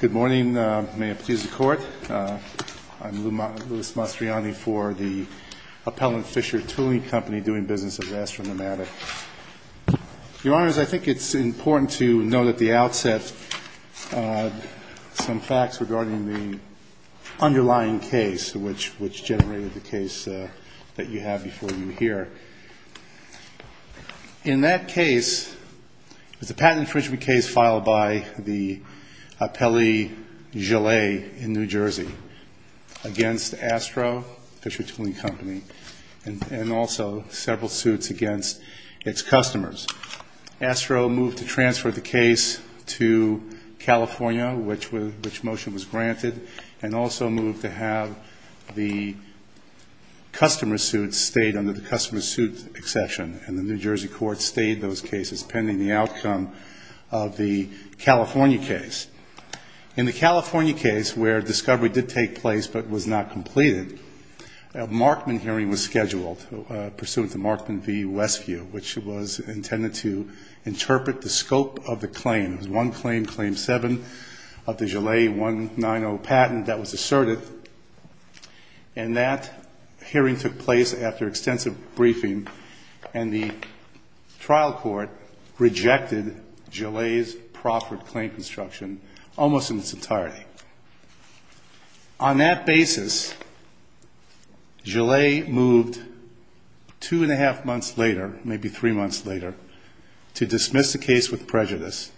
Good morning. May it please the Court. I'm Louis Mastriani for the Appellant Fisher Tooling Company doing business with Astronomata. Your Honors, I think it's important to note at the outset some facts regarding the underlying case which generated the case that you have before you here. In that case, it was a patent infringement case filed by the Appellé Gilet in New Jersey against Astro Fisher Tooling Company and also several suits against its customers. Astro moved to transfer the case to California, which motion was granted, and also moved to have the customer suit stayed under the customer suit exception. And the New Jersey court stayed those cases pending the outcome of the California case. In the California case, where discovery did take place but was not completed, a Markman hearing was scheduled pursuant to Markman v. Westview, which was intended to interpret the scope of the claim. It was one claim, claim seven, of the Gilet 190 patent that was asserted. And that hearing took place after extensive briefing, and the trial court rejected Gilet's proffered claim construction almost in its entirety. On that basis, Gilet moved two and a half months later, maybe three months later, to dismiss the case with prejudice.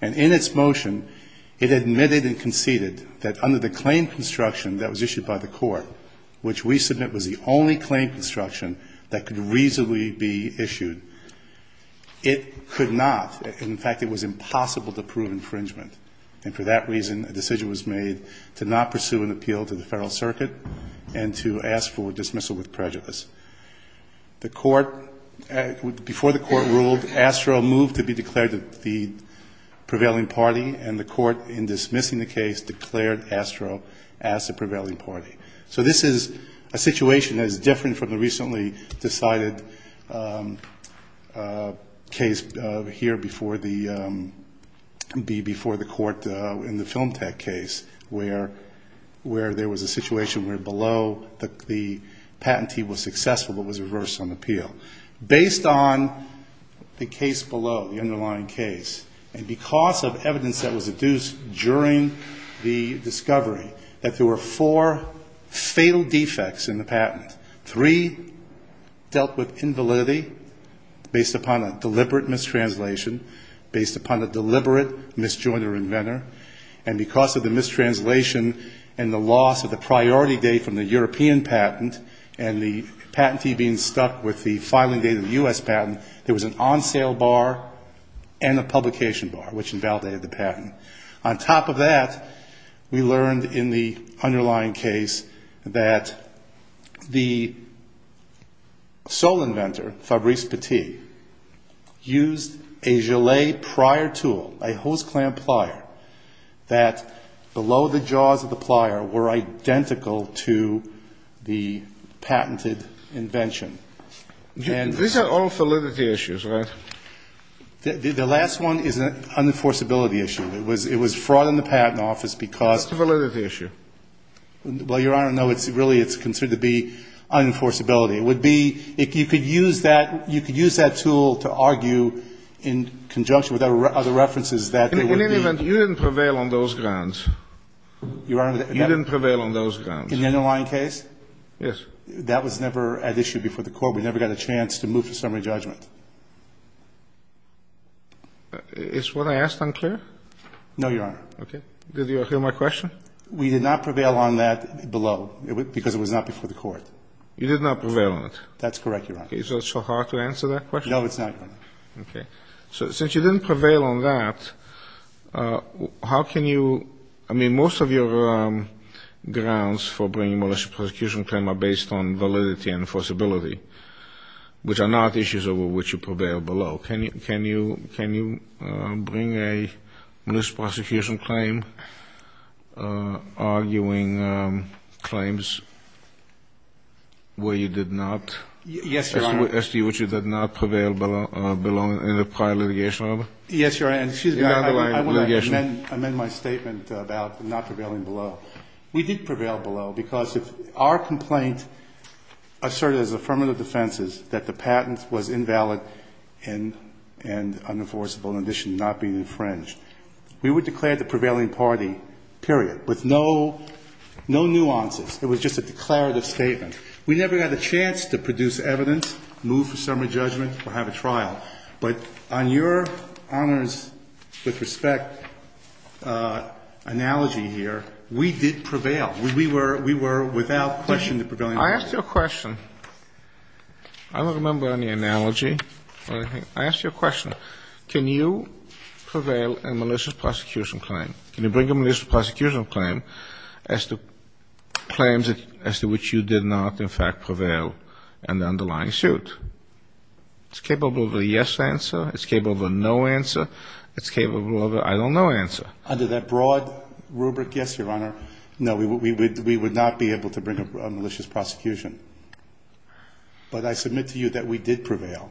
And in its motion, it admitted and conceded that under the claim construction that was issued by the court, which we submit was the only claim construction that could reasonably be issued, it could not. In fact, it was impossible to prove infringement. And for that reason, a decision was made to not pursue an appeal to the Federal Circuit and to ask for dismissal with prejudice. The court, before the court ruled, Astro moved to be declared the prevailing party, and the court, in dismissing the case, declared Astro as the prevailing party. So this is a situation that is different from the recently decided case here before the court in the Film Tech case, where there was a situation where below the patentee was successful but was reversed on appeal. Based on the case below, the underlying case, and because of evidence that was adduced during the discovery that there were four fatal defects in the patent, three dealt with invalidity based upon a deliberate mistranslation, based upon a deliberate misjoint or inventor, and because of the mistranslation and the loss of the priority date from the European patent and the patentee being stuck with the fatal defect. There was an on-sale bar and a publication bar, which invalidated the patent. On top of that, we learned in the underlying case that the sole inventor, Fabrice Petit, used a gilet prior tool, a hose clamp plier, that below the jaws of the plier were identical to the patented invention. These are all validity issues, right? The last one is an unenforceability issue. It was fraud in the patent office because... What's the validity issue? Well, Your Honor, no, really it's considered to be unenforceability. It would be if you could use that tool to argue in conjunction with other references that there would be... In any event, you didn't prevail on those grounds. You didn't prevail on those grounds. In the underlying case? Yes. That was never at issue before the Court. We never got a chance to move to summary judgment. Is what I asked unclear? No, Your Honor. Okay. Did you hear my question? We did not prevail on that below, because it was not before the Court. You did not prevail on it? That's correct, Your Honor. Is it so hard to answer that question? No, it's not, Your Honor. Okay. So since you didn't prevail on that, how can you... I mean, most of your grounds for bringing a malicious prosecution claim are based on validity and enforceability, which are not issues over which you prevailed below. Can you bring a malicious prosecution claim arguing claims where you did not? Yes, Your Honor. Yes, Your Honor. And excuse me. I want to amend my statement about not prevailing below. We did prevail below because our complaint asserted as affirmative defenses that the patent was invalid and unenforceable, in addition to not being infringed. We would declare the prevailing party, period, with no nuances. It was just a declarative statement. We never had a chance to produce evidence, move for summary judgment, or have a trial. But on your honor's with respect analogy here, we did prevail. We were without question the prevailing party. I asked you a question. I don't remember any analogy or anything. I asked you a question. Can you prevail a malicious prosecution claim? Can you bring a malicious prosecution claim as to claims as to which you did not, in fact, prevail in the underlying suit? It's capable of a yes answer. It's capable of a no answer. It's capable of a I don't know answer. Under that broad rubric, yes, Your Honor. No, we would not be able to bring a malicious prosecution. But I submit to you that we did prevail.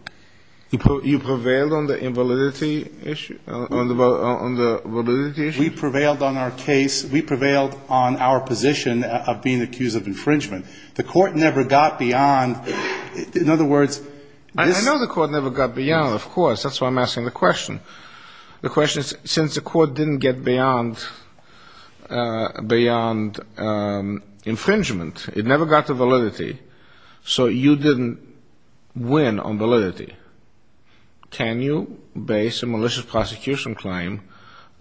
You prevailed on the invalidity issue? On the validity issue? We prevailed on our case. We prevailed on our position of being accused of infringement. The court never got beyond. In other words, this — I know the court never got beyond, of course. That's why I'm asking the question. The question is, since the court didn't get beyond infringement, it never got to validity, so you didn't win on validity. Can you base a malicious prosecution claim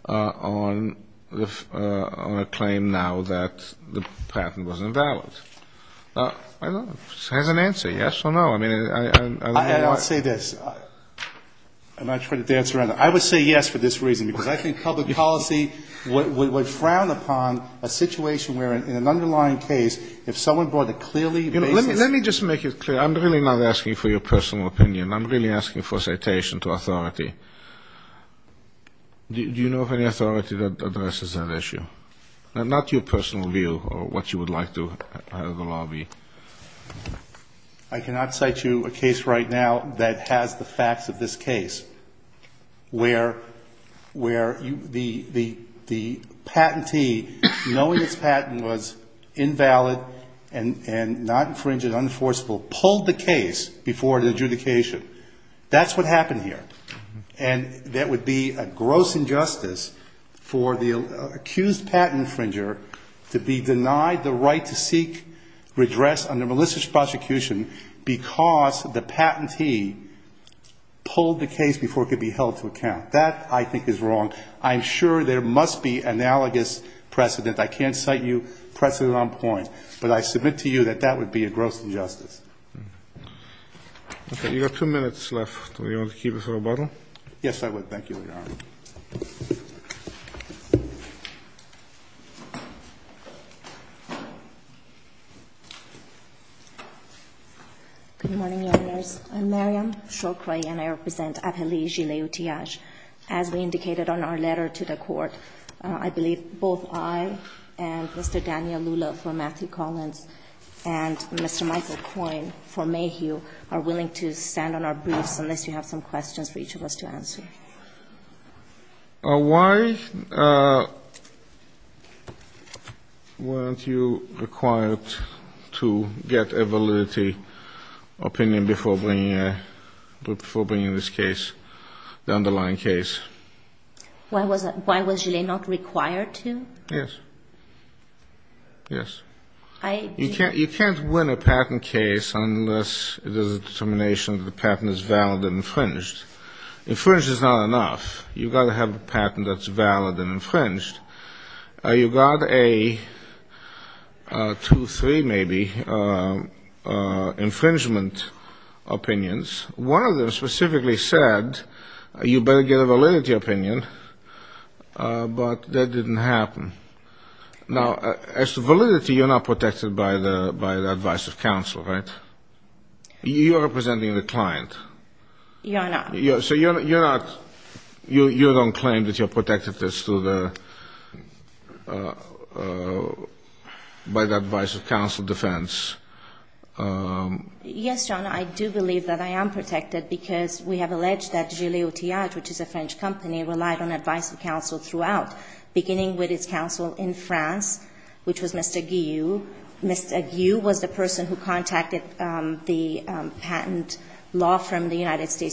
on a claim now that the patent was invalid? I don't know. It has an answer, yes or no. I mean, I don't know why. I'll say this, and I try to dance around it. I would say yes for this reason, because I think public policy would frown upon a situation where in an underlying case, if someone brought a clearly baseless — Let me just make it clear. I'm really not asking for your personal opinion. I'm really asking for citation to authority. Do you know of any authority that addresses that issue? Not your personal view or what you would like to have the law be. I cannot cite you a case right now that has the facts of this case where the patentee, knowing its patent was invalid and not infringed, unenforceable, pulled the case before the adjudication. That's what happened here. And that would be a gross injustice for the accused patent infringer to be denied the right to seek redress under malicious prosecution because the patentee pulled the case before it could be held to account. That, I think, is wrong. I'm sure there must be analogous precedent. I can't cite you precedent on point. But I submit to you that that would be a gross injustice. Okay. You've got two minutes left. Do you want to keep us at a bottle? Yes, I would. Thank you, Your Honor. Good morning, Your Honors. I'm Maryam Shoukri, and I represent Abheli Jilay-Utiyaj. As we indicated on our letter to the Court, I believe both I and Mr. Daniel Lula for Matthew Collins and Mr. Michael Coyne for Mayhew are willing to stand on our briefs unless you have some questions for each of us to answer. Why weren't you required to get a validity opinion before bringing this case, the underlying case? Why was Jilay not required to? Yes. Yes. You can't win a patent case unless there's a determination that the patent is valid and infringed. Infringed is not enough. You've got to have a patent that's valid and infringed. You got two, three maybe infringement opinions. One of them specifically said you better get a validity opinion, but that didn't happen. Now, as to validity, you're not protected by the advice of counsel, right? You are representing the client. You are not. So you're not, you don't claim that you're protected by the advice of counsel defense. Yes, Your Honor, I do believe that I am protected because we have alleged that Jilay-Utiyaj, which is a French company, relied on advice of counsel throughout, beginning with its counsel in France, which was Mr.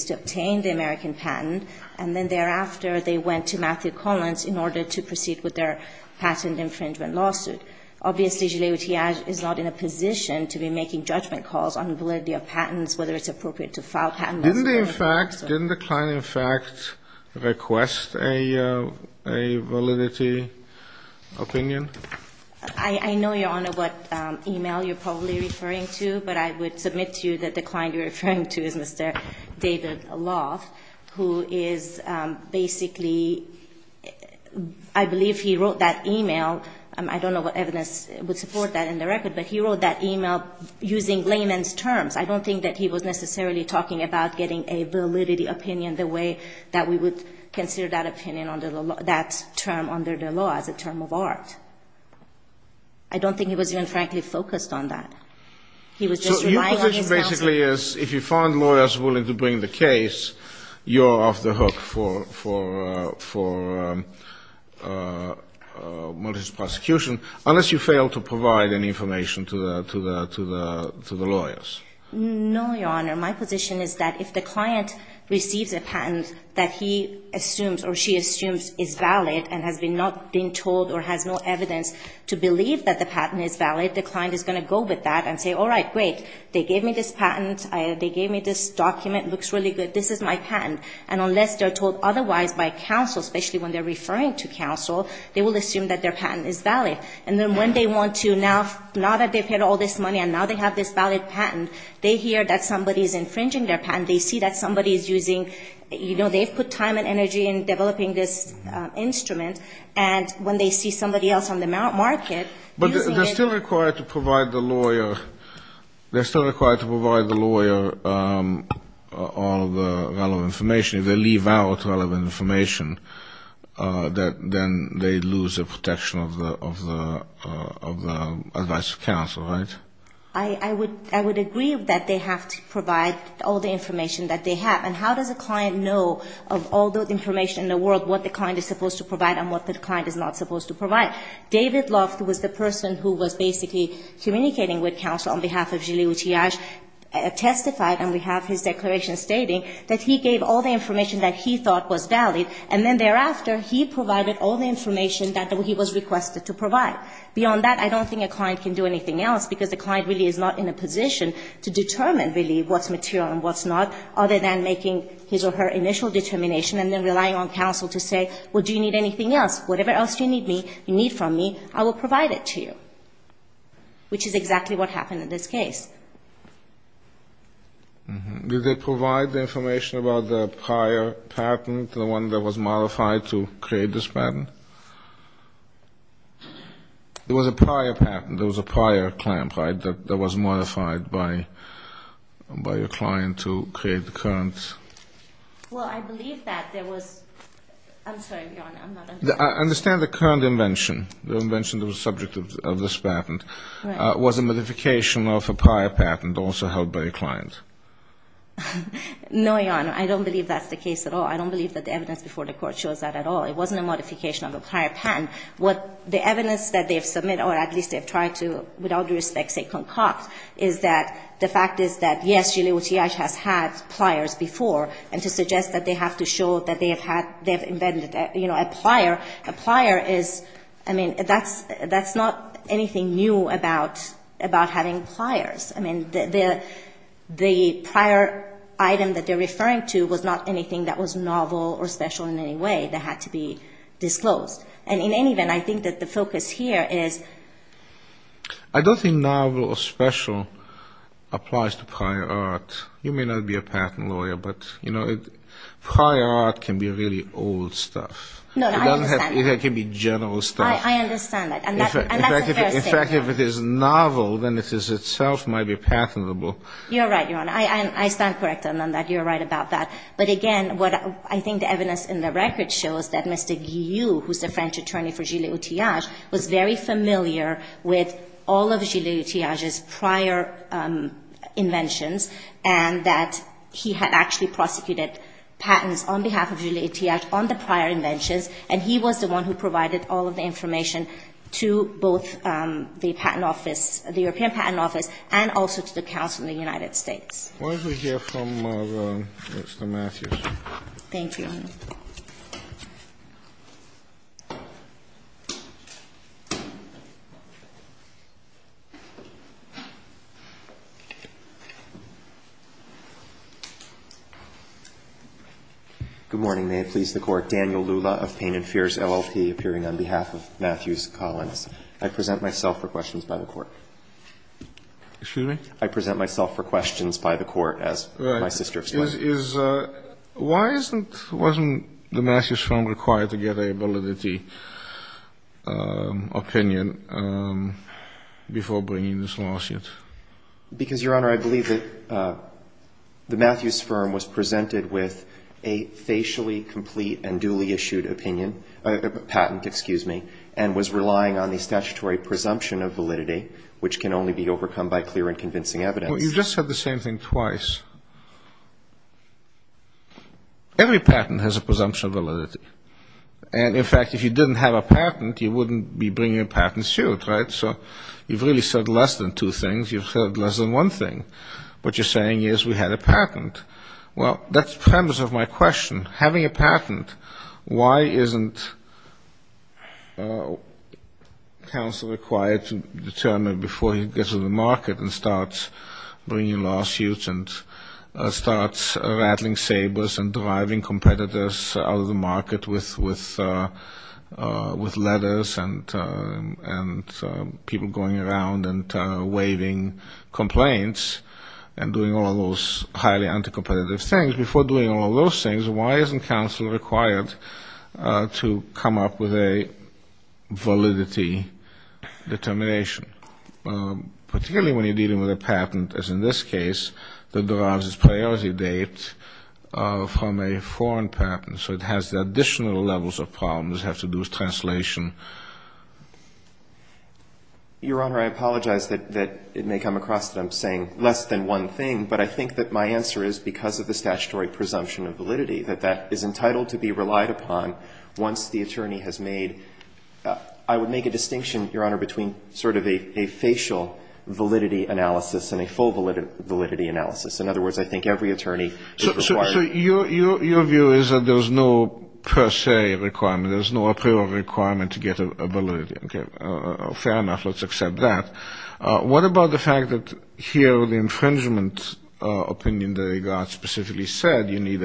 to obtain the American patent, and then thereafter they went to Matthew Collins in order to proceed with their patent infringement lawsuit. Obviously, Jilay-Utiyaj is not in a position to be making judgment calls on validity of patents, whether it's appropriate to file patents. Didn't the client in fact request a validity opinion? I know, Your Honor, what e-mail you're probably referring to, but I would submit to you that the client you're referring to is Mr. David Loft, who is basically – I believe he wrote that e-mail. I don't know what evidence would support that in the record, but he wrote that e-mail using layman's terms. I don't think that he was necessarily talking about getting a validity opinion the way that we would consider that opinion under the law, that term under the law as a term of art. I don't think he was even, frankly, focused on that. He was just relying on himself. So your position basically is if you find lawyers willing to bring the case, you're off the hook for malicious prosecution, unless you fail to provide any information to the lawyers. No, Your Honor. My position is that if the client receives a patent that he assumes or she assumes is valid and has not been told or has no evidence to believe that the patent is valid, the client is going to go with that and say, all right, great. They gave me this patent. They gave me this document. It looks really good. This is my patent. And unless they're told otherwise by counsel, especially when they're referring to counsel, they will assume that their patent is valid. And then when they want to – now that they've paid all this money and now they have this valid patent, they hear that somebody is infringing their patent. They see that somebody is using – you know, they've put time and energy in developing this instrument, and when they see somebody else on the market using it – They're still required to provide the lawyer all of the relevant information. If they leave out relevant information, then they lose the protection of the advice of counsel, right? I would agree that they have to provide all the information that they have. And how does a client know of all the information in the world, what the client is supposed to provide and what the client is not supposed to provide? David Loft was the person who was basically communicating with counsel on behalf of Gilles Utillage, testified, and we have his declaration stating, that he gave all the information that he thought was valid, and then thereafter, he provided all the information that he was requested to provide. Beyond that, I don't think a client can do anything else, because the client really is not in a position to determine, really, what's material and what's not, other than making his or her initial determination and then relying on counsel to say, well, do you need anything else? Whatever else you need from me, I will provide it to you, which is exactly what happened in this case. Did they provide the information about the prior patent, the one that was modified to create this patent? It was a prior patent. It was a prior claim, right, that was modified by your client to create the current? Well, I believe that there was – I'm sorry, Your Honor, I'm not understanding. I understand the current invention, the invention that was subject of this patent. Right. Was a modification of a prior patent also held by the client? No, Your Honor. I don't believe that's the case at all. I don't believe that the evidence before the Court shows that at all. It wasn't a modification of a prior patent. What the evidence that they have submitted, or at least they have tried to, with all priors before, and to suggest that they have to show that they have invented a prior, a prior is, I mean, that's not anything new about having priors. I mean, the prior item that they're referring to was not anything that was novel or special in any way that had to be disclosed. And in any event, I think that the focus here is – You may not be a patent lawyer, but, you know, prior art can be really old stuff. No, no, I understand. It can be general stuff. I understand that. And that's the first thing. In fact, if it is novel, then it is itself might be patentable. You're right, Your Honor. I stand corrected on that. You're right about that. But again, what I think the evidence in the record shows that Mr. Guyoux, who's the French prior inventions, and that he had actually prosecuted patents on behalf of Julliard Tiage on the prior inventions, and he was the one who provided all of the information to both the patent office, the European patent office, and also to the counsel in the United States. Why don't we hear from Mr. Matthews. Thank you, Your Honor. Good morning. May it please the Court. Daniel Lula of Pain and Fears, LLP, appearing on behalf of Matthews Collins. I present myself for questions by the Court. Excuse me? I present myself for questions by the Court as my sister of spying. My question is, why isn't the Matthews firm required to get a validity opinion before bringing this lawsuit? Because, Your Honor, I believe that the Matthews firm was presented with a facially complete and duly issued opinion, patent, excuse me, and was relying on the statutory presumption of validity, which can only be overcome by clear and convincing evidence. Well, you just said the same thing twice. Every patent has a presumption of validity. And, in fact, if you didn't have a patent, you wouldn't be bringing a patent suit, right? So you've really said less than two things. You've said less than one thing. What you're saying is we had a patent. Well, that's the premise of my question. Having a patent, why isn't counsel required to determine before he gets to the market and starts bringing lawsuits and starts rattling sabers and driving competitors out of the market with letters and people going around and waiving complaints and doing all of those highly anti-competitive things, before doing all of those things, why isn't counsel required to come up with a validity determination? Particularly when you're dealing with a patent, as in this case, that derives its priority date from a foreign patent. So it has the additional levels of problems that have to do with translation. Your Honor, I apologize that it may come across that I'm saying less than one thing. But I think that my answer is because of the statutory presumption of validity, that that is entitled to be relied upon once the attorney has made, I would make a distinction, Your Honor, between sort of a facial validity analysis and a full validity analysis. In other words, I think every attorney is required. So your view is that there's no per se requirement, there's no approval requirement to get a validity. Okay. Fair enough. Let's accept that. What about the fact that here the infringement opinion that he got specifically said you need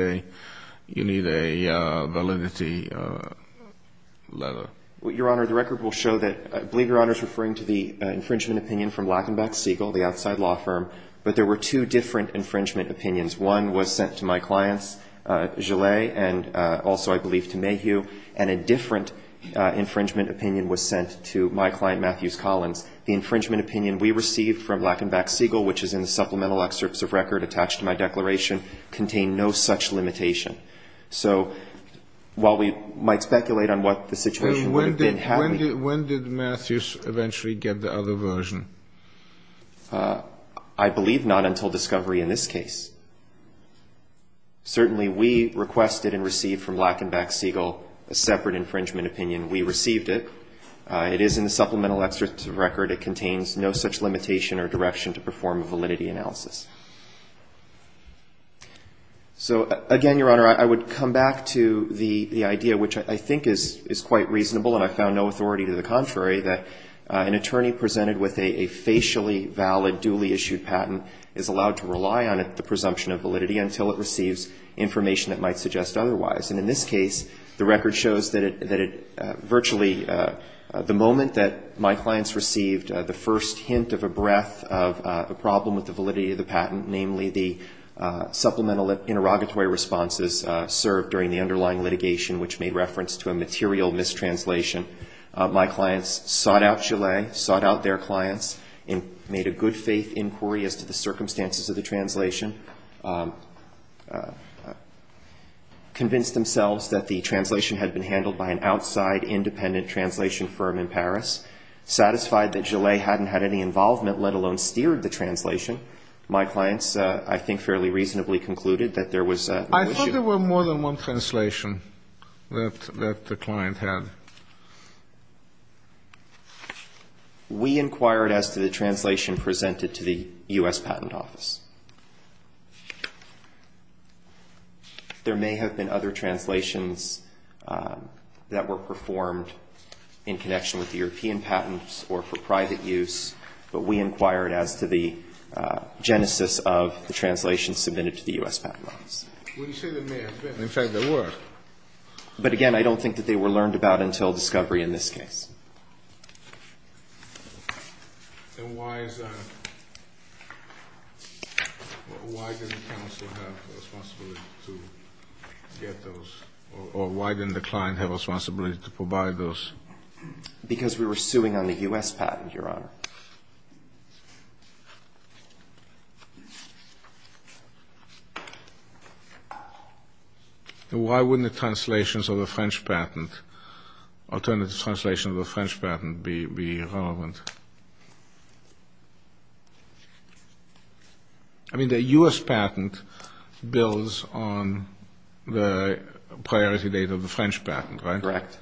a validity letter? Well, Your Honor, the record will show that, I believe Your Honor is referring to the infringement opinion from Lachenbach Siegel, the outside law firm. But there were two different infringement opinions. One was sent to my clients, Gilles, and also, I believe, to Mayhew. And a different infringement opinion was sent to my client, Matthews Collins. The infringement opinion we received from Lachenbach Siegel, which is in the supplemental excerpts of record attached to my declaration, contained no such limitation. So while we might speculate on what the situation would have been had we ---- When did Matthews eventually get the other version? I believe not until discovery in this case. Certainly we requested and received from Lachenbach Siegel a separate infringement opinion. We received it. It is in the supplemental excerpts of record. It contains no such limitation or direction to perform a validity analysis. So, again, Your Honor, I would come back to the idea, which I think is quite reasonable and I found no authority to the contrary, that an attorney presented with a facially valid duly issued patent is allowed to rely on the presumption of validity until it receives information that might suggest otherwise. And in this case, the record shows that it virtually ---- the moment that my clients received the first hint of a breath of a problem with the validity of the patent, namely the supplemental interrogatory responses served during the underlying litigation which made reference to a material mistranslation, my clients sought out Gillet, sought out their clients and made a good faith inquiry as to the circumstances of the translation, convinced themselves that the translation had been handled by an outside independent translation firm in Paris, satisfied that Gillet hadn't had any involvement, let alone steered the translation. My clients, I think, fairly reasonably concluded that there was no issue. I thought there were more than one translation that the client had. We inquired as to the translation presented to the U.S. Patent Office. There may have been other translations that were performed in connection with European patents or for private use, but we inquired as to the genesis of the translation submitted to the U.S. Patent Office. Well, you say there may have been. In fact, there were. But again, I don't think that they were learned about until discovery in this case. And why is that? Why did the counsel have the responsibility to get those? Or why didn't the client have a responsibility to provide those? Because we were suing on the U.S. patent, Your Honor. All right. Why wouldn't the translations of a French patent, alternative translations of a French patent, be relevant? I mean, the U.S. patent builds on the priority date of the French patent, right? Correct.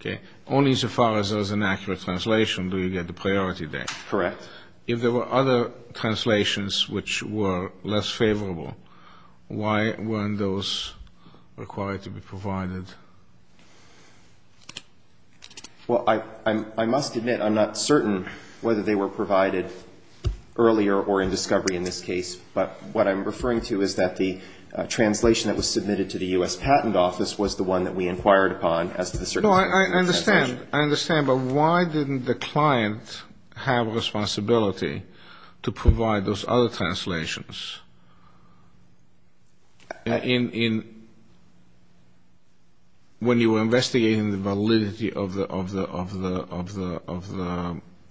Okay. That means as far as an accurate translation, do you get the priority date? Correct. If there were other translations which were less favorable, why weren't those required to be provided? Well, I must admit I'm not certain whether they were provided earlier or in discovery in this case. But what I'm referring to is that the translation that was submitted to the U.S. Patent Office was the one that we inquired upon as to the certainty of the translation. No, I understand. I understand. But why didn't the client have a responsibility to provide those other translations? When you were investigating the validity of the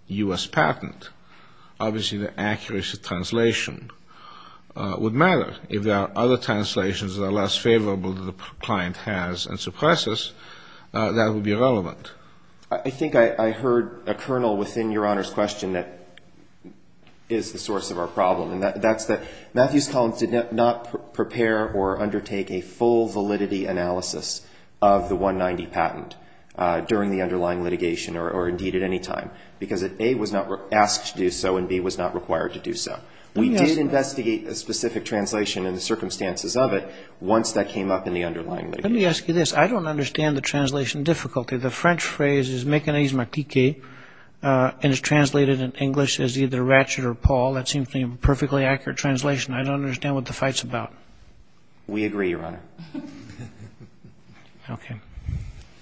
U.S. patent, obviously the accuracy of translation would matter. If there are other translations that are less favorable that the client has and suppresses, that would be relevant. I think I heard a kernel within Your Honor's question that is the source of our problem. And that's that Matthews Collins did not prepare or undertake a full validity analysis of the 190 patent during the underlying litigation or, indeed, at any time, because it, A, was not asked to do so and, B, was not required to do so. We did investigate a specific translation and the circumstances of it once that came up in the underlying litigation. Let me ask you this. I don't understand the translation difficulty. The French phrase is mécanisme critique and is translated in English as either ratchet or pawl. That seems to be a perfectly accurate translation. I don't understand what the fight's about. We agree, Your Honor. Okay.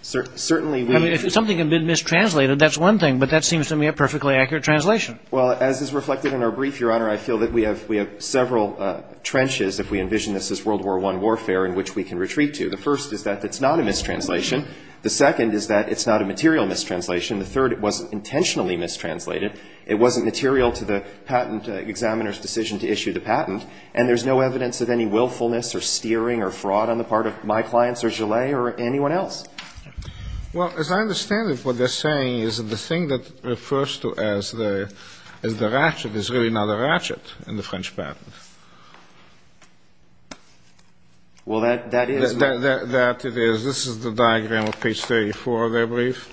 Certainly, we – I mean, if something had been mistranslated, that's one thing. But that seems to me a perfectly accurate translation. Well, as is reflected in our brief, Your Honor, I feel that we have several trenches if we envision this as World War I warfare in which we can retreat to. The first is that it's not a mistranslation. The second is that it's not a material mistranslation. The third, it wasn't intentionally mistranslated. It wasn't material to the patent examiner's decision to issue the patent. And there's no evidence of any willfulness or steering or fraud on the part of my clients or Gillet or anyone else. Well, as I understand it, what they're saying is that the thing that refers to as the ratchet is really not a ratchet in the French patent. Well, that is. That it is. This is the diagram of page 34 of their brief.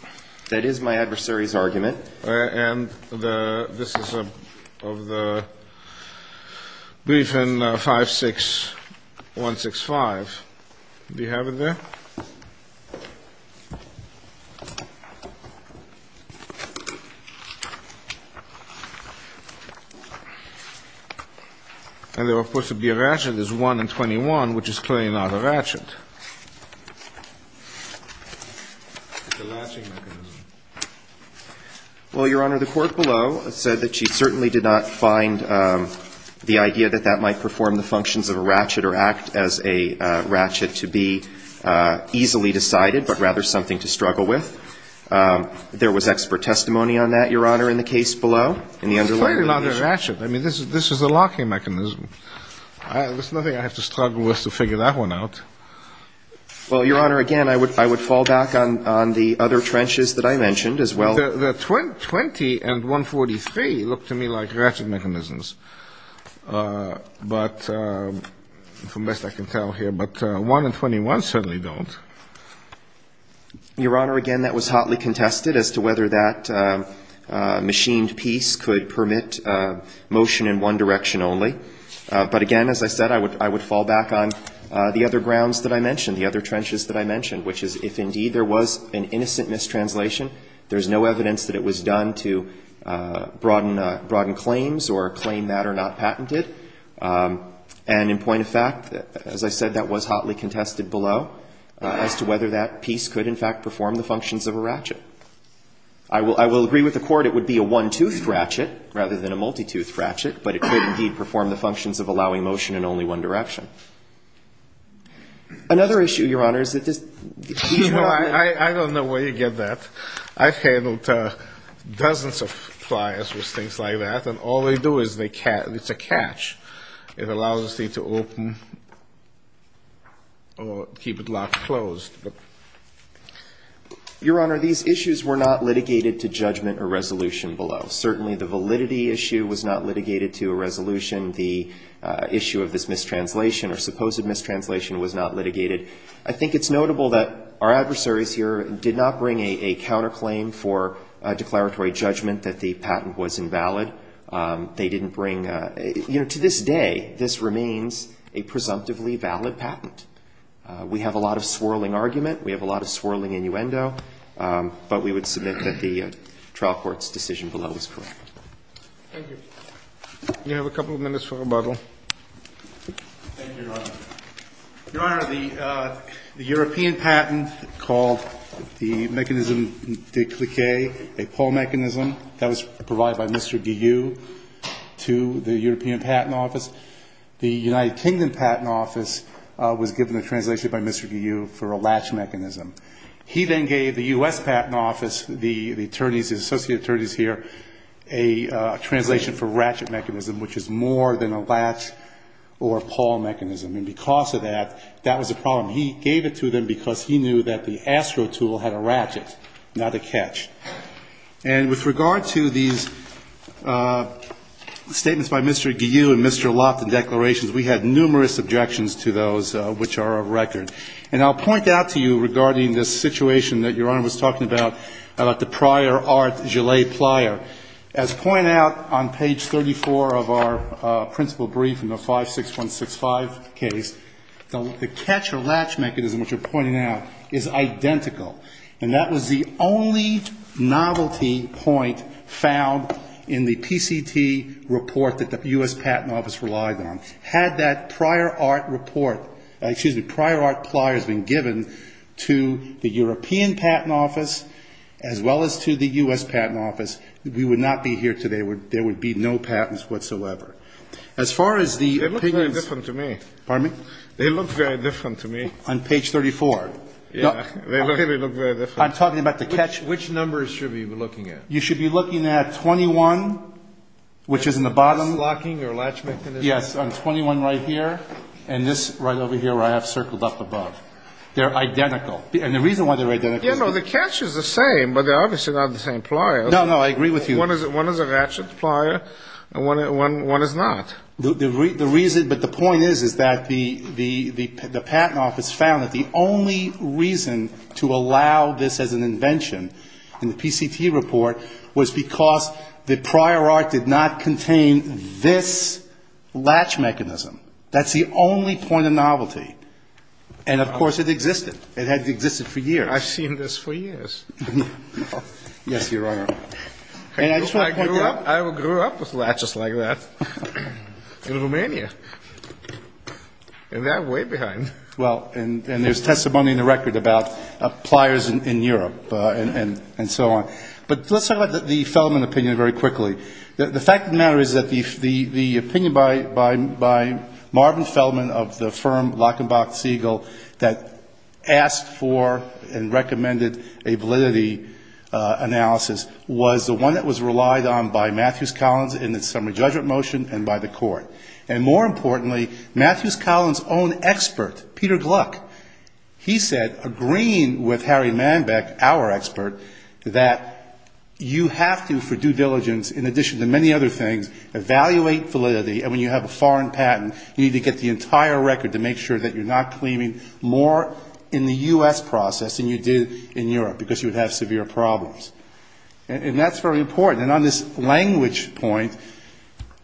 That is my adversary's argument. And this is of the brief in 56165. Do you have it there? And there, of course, would be a ratchet. There's one in 21, which is clearly not a ratchet. It's a latching mechanism. Well, Your Honor, the court below said that she certainly did not find the idea that that might perform the functions of a ratchet or act as a ratchet to be easily decided, but rather something to struggle with. There was expert testimony on that, Your Honor, in the case below. It's clearly not a ratchet. I mean, this is a locking mechanism. There's nothing I have to struggle with to figure that one out. Well, Your Honor, again, I would fall back on the other trenches that I mentioned as well. The 20 and 143 look to me like ratchet mechanisms. But from best I can tell here, but 1 and 21 certainly don't. Your Honor, again, that was hotly contested as to whether that machined piece could permit motion in one direction only. But again, as I said, I would fall back on the other grounds that I mentioned, the other trenches that I mentioned, which is if, indeed, there was an innocent mistranslation, there's no evidence that it was done to broaden claims or claim that are not patented. And in point of fact, as I said, that was hotly contested below as to whether that piece could, in fact, perform the functions of a ratchet. I will agree with the court it would be a one-tooth ratchet rather than a multi-tooth ratchet, but it could, indeed, perform the functions of allowing motion in only one direction. Another issue, Your Honor, is that this piece of equipment. You know, I don't know where you get that. I've handled dozens of flyers with things like that, and all they do is they catch. It's a catch. It allows the thing to open or keep it locked closed. Your Honor, these issues were not litigated to judgment or resolution below. Certainly, the validity issue was not litigated to a resolution. The issue of this mistranslation or supposed mistranslation was not litigated. I think it's notable that our adversaries here did not bring a counterclaim for a declaratory judgment that the patent was invalid. They didn't bring, you know, to this day, this remains a presumptively valid patent. We have a lot of swirling argument. We have a lot of swirling innuendo. But we would submit that the trial court's decision below is correct. Thank you. We have a couple of minutes for rebuttal. Thank you, Your Honor. Your Honor, the European patent called the mechanism de cliquet a pull mechanism. That was provided by Mr. Diu to the European Patent Office. The United Kingdom Patent Office was given a translation by Mr. Diu for a latch mechanism. He then gave the U.S. Patent Office, the attorneys, the associate attorneys here, a translation for ratchet mechanism, which is more than a latch or pull mechanism. And because of that, that was a problem. He gave it to them because he knew that the AstroTool had a ratchet, not a catch. And with regard to these statements by Mr. Diu and Mr. Loft and declarations, we had numerous objections to those which are of record. And I'll point out to you regarding this situation that Your Honor was talking about, about the prior art gelee plier. As pointed out on page 34 of our principal brief in the 56165 case, the catch or latch mechanism, which you're pointing out, is identical. And that was the only novelty point found in the PCT report that the U.S. Patent Office relied on. Had that prior art report, excuse me, prior art pliers been given to the European Patent Office as well as to the U.S. Patent Office, we would not be here today. There would be no patents whatsoever. As far as the opinions. They look very different to me. Pardon me? They look very different to me. On page 34. Yeah. They really look very different. I'm talking about the catch. Which numbers should we be looking at? You should be looking at 21, which is in the bottom. Yes, on 21 right here. And this right over here where I have circled up above. They're identical. And the reason why they're identical is because. Yeah, no, the catch is the same, but they're obviously not the same pliers. No, no, I agree with you. One is a ratchet plier. One is not. The reason, but the point is, is that the Patent Office found that the only reason to allow this as an invention in the PCT report was because the prior art did not contain this latch mechanism. That's the only point of novelty. And, of course, it existed. It had existed for years. I've seen this for years. Yes, Your Honor. I grew up with latches like that in Romania. And they're way behind. Well, and there's testimony in the record about pliers in Europe and so on. But let's talk about the Fellman opinion very quickly. The fact of the matter is that the opinion by Marvin Fellman of the firm Lockenbach Siegel that asked for and recommended a validity analysis was the one that was relied on by Matthews Collins in the summary judgment motion and by the court. And more importantly, Matthews Collins' own expert, Peter Gluck, he said, agreeing with Harry Manbeck, our expert, that you have to, for due diligence, in addition to many other things, evaluate validity, and when you have a foreign patent, you need to get the entire record to make sure that you're not claiming more in the U.S. process than you did in Europe, because you would have severe problems. And that's very important. And on this language point,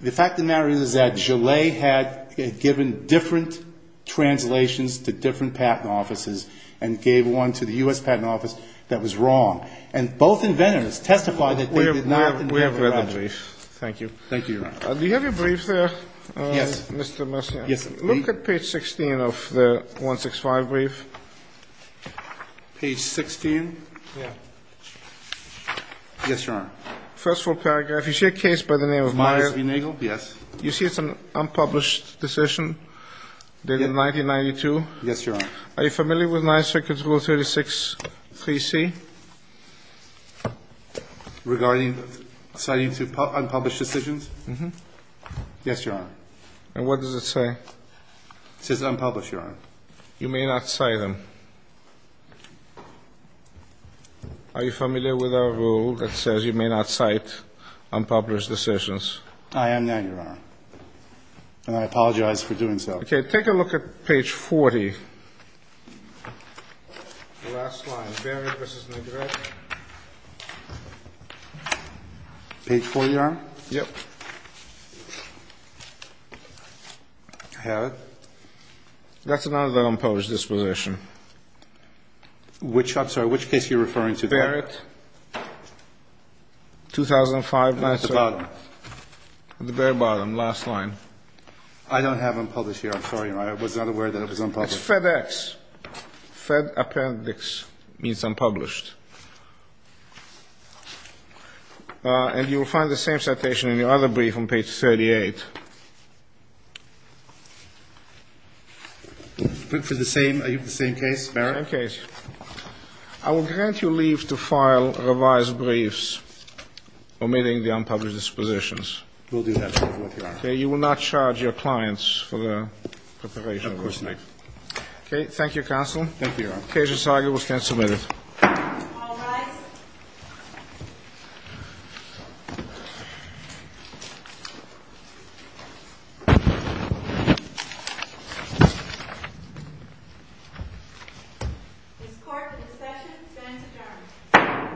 the fact of the matter is that Gillet had given different translations to different patent offices and gave one to the U.S. Patent Office that was wrong. And both inventors testified that they did not. We have read the brief. Thank you. Thank you, Your Honor. Do you have your brief there? Yes. Mr. Messina. Yes. Look at page 16 of the 165 brief. Page 16? Yeah. Yes, Your Honor. First full paragraph. You see a case by the name of Myers v. Nagel? Yes. You see it's an unpublished decision dated 1992? Yes, Your Honor. Are you familiar with 9th Circuit's Rule 36-3C? Regarding citing unpublished decisions? Yes, Your Honor. And what does it say? It says unpublished, Your Honor. You may not cite them. Are you familiar with our rule that says you may not cite unpublished decisions? I am not, Your Honor. And I apologize for doing so. Okay. Take a look at page 40. Last line, Barrett v. Nagel. Page 40, Your Honor? Yep. I have it. That's another unpublished disposition. I'm sorry. Which case are you referring to? Barrett. 2005 9th Circuit. At the bottom. At the very bottom, last line. I don't have unpublished here. I'm sorry, Your Honor. I was not aware that it was unpublished. It's FedEx. FedAppendix means unpublished. And you will find the same citation in your other brief on page 38. Are you for the same case, Barrett? Same case. I will grant you leave to file revised briefs omitting the unpublished dispositions. We'll do that, Your Honor. Okay. You will not charge your clients for the preparation of those briefs? No, of course not. Okay. Thank you, Counsel. Thank you, Your Honor. Case is argued. We can submit it. All rise. This court in the session stands adjourned. Thank you.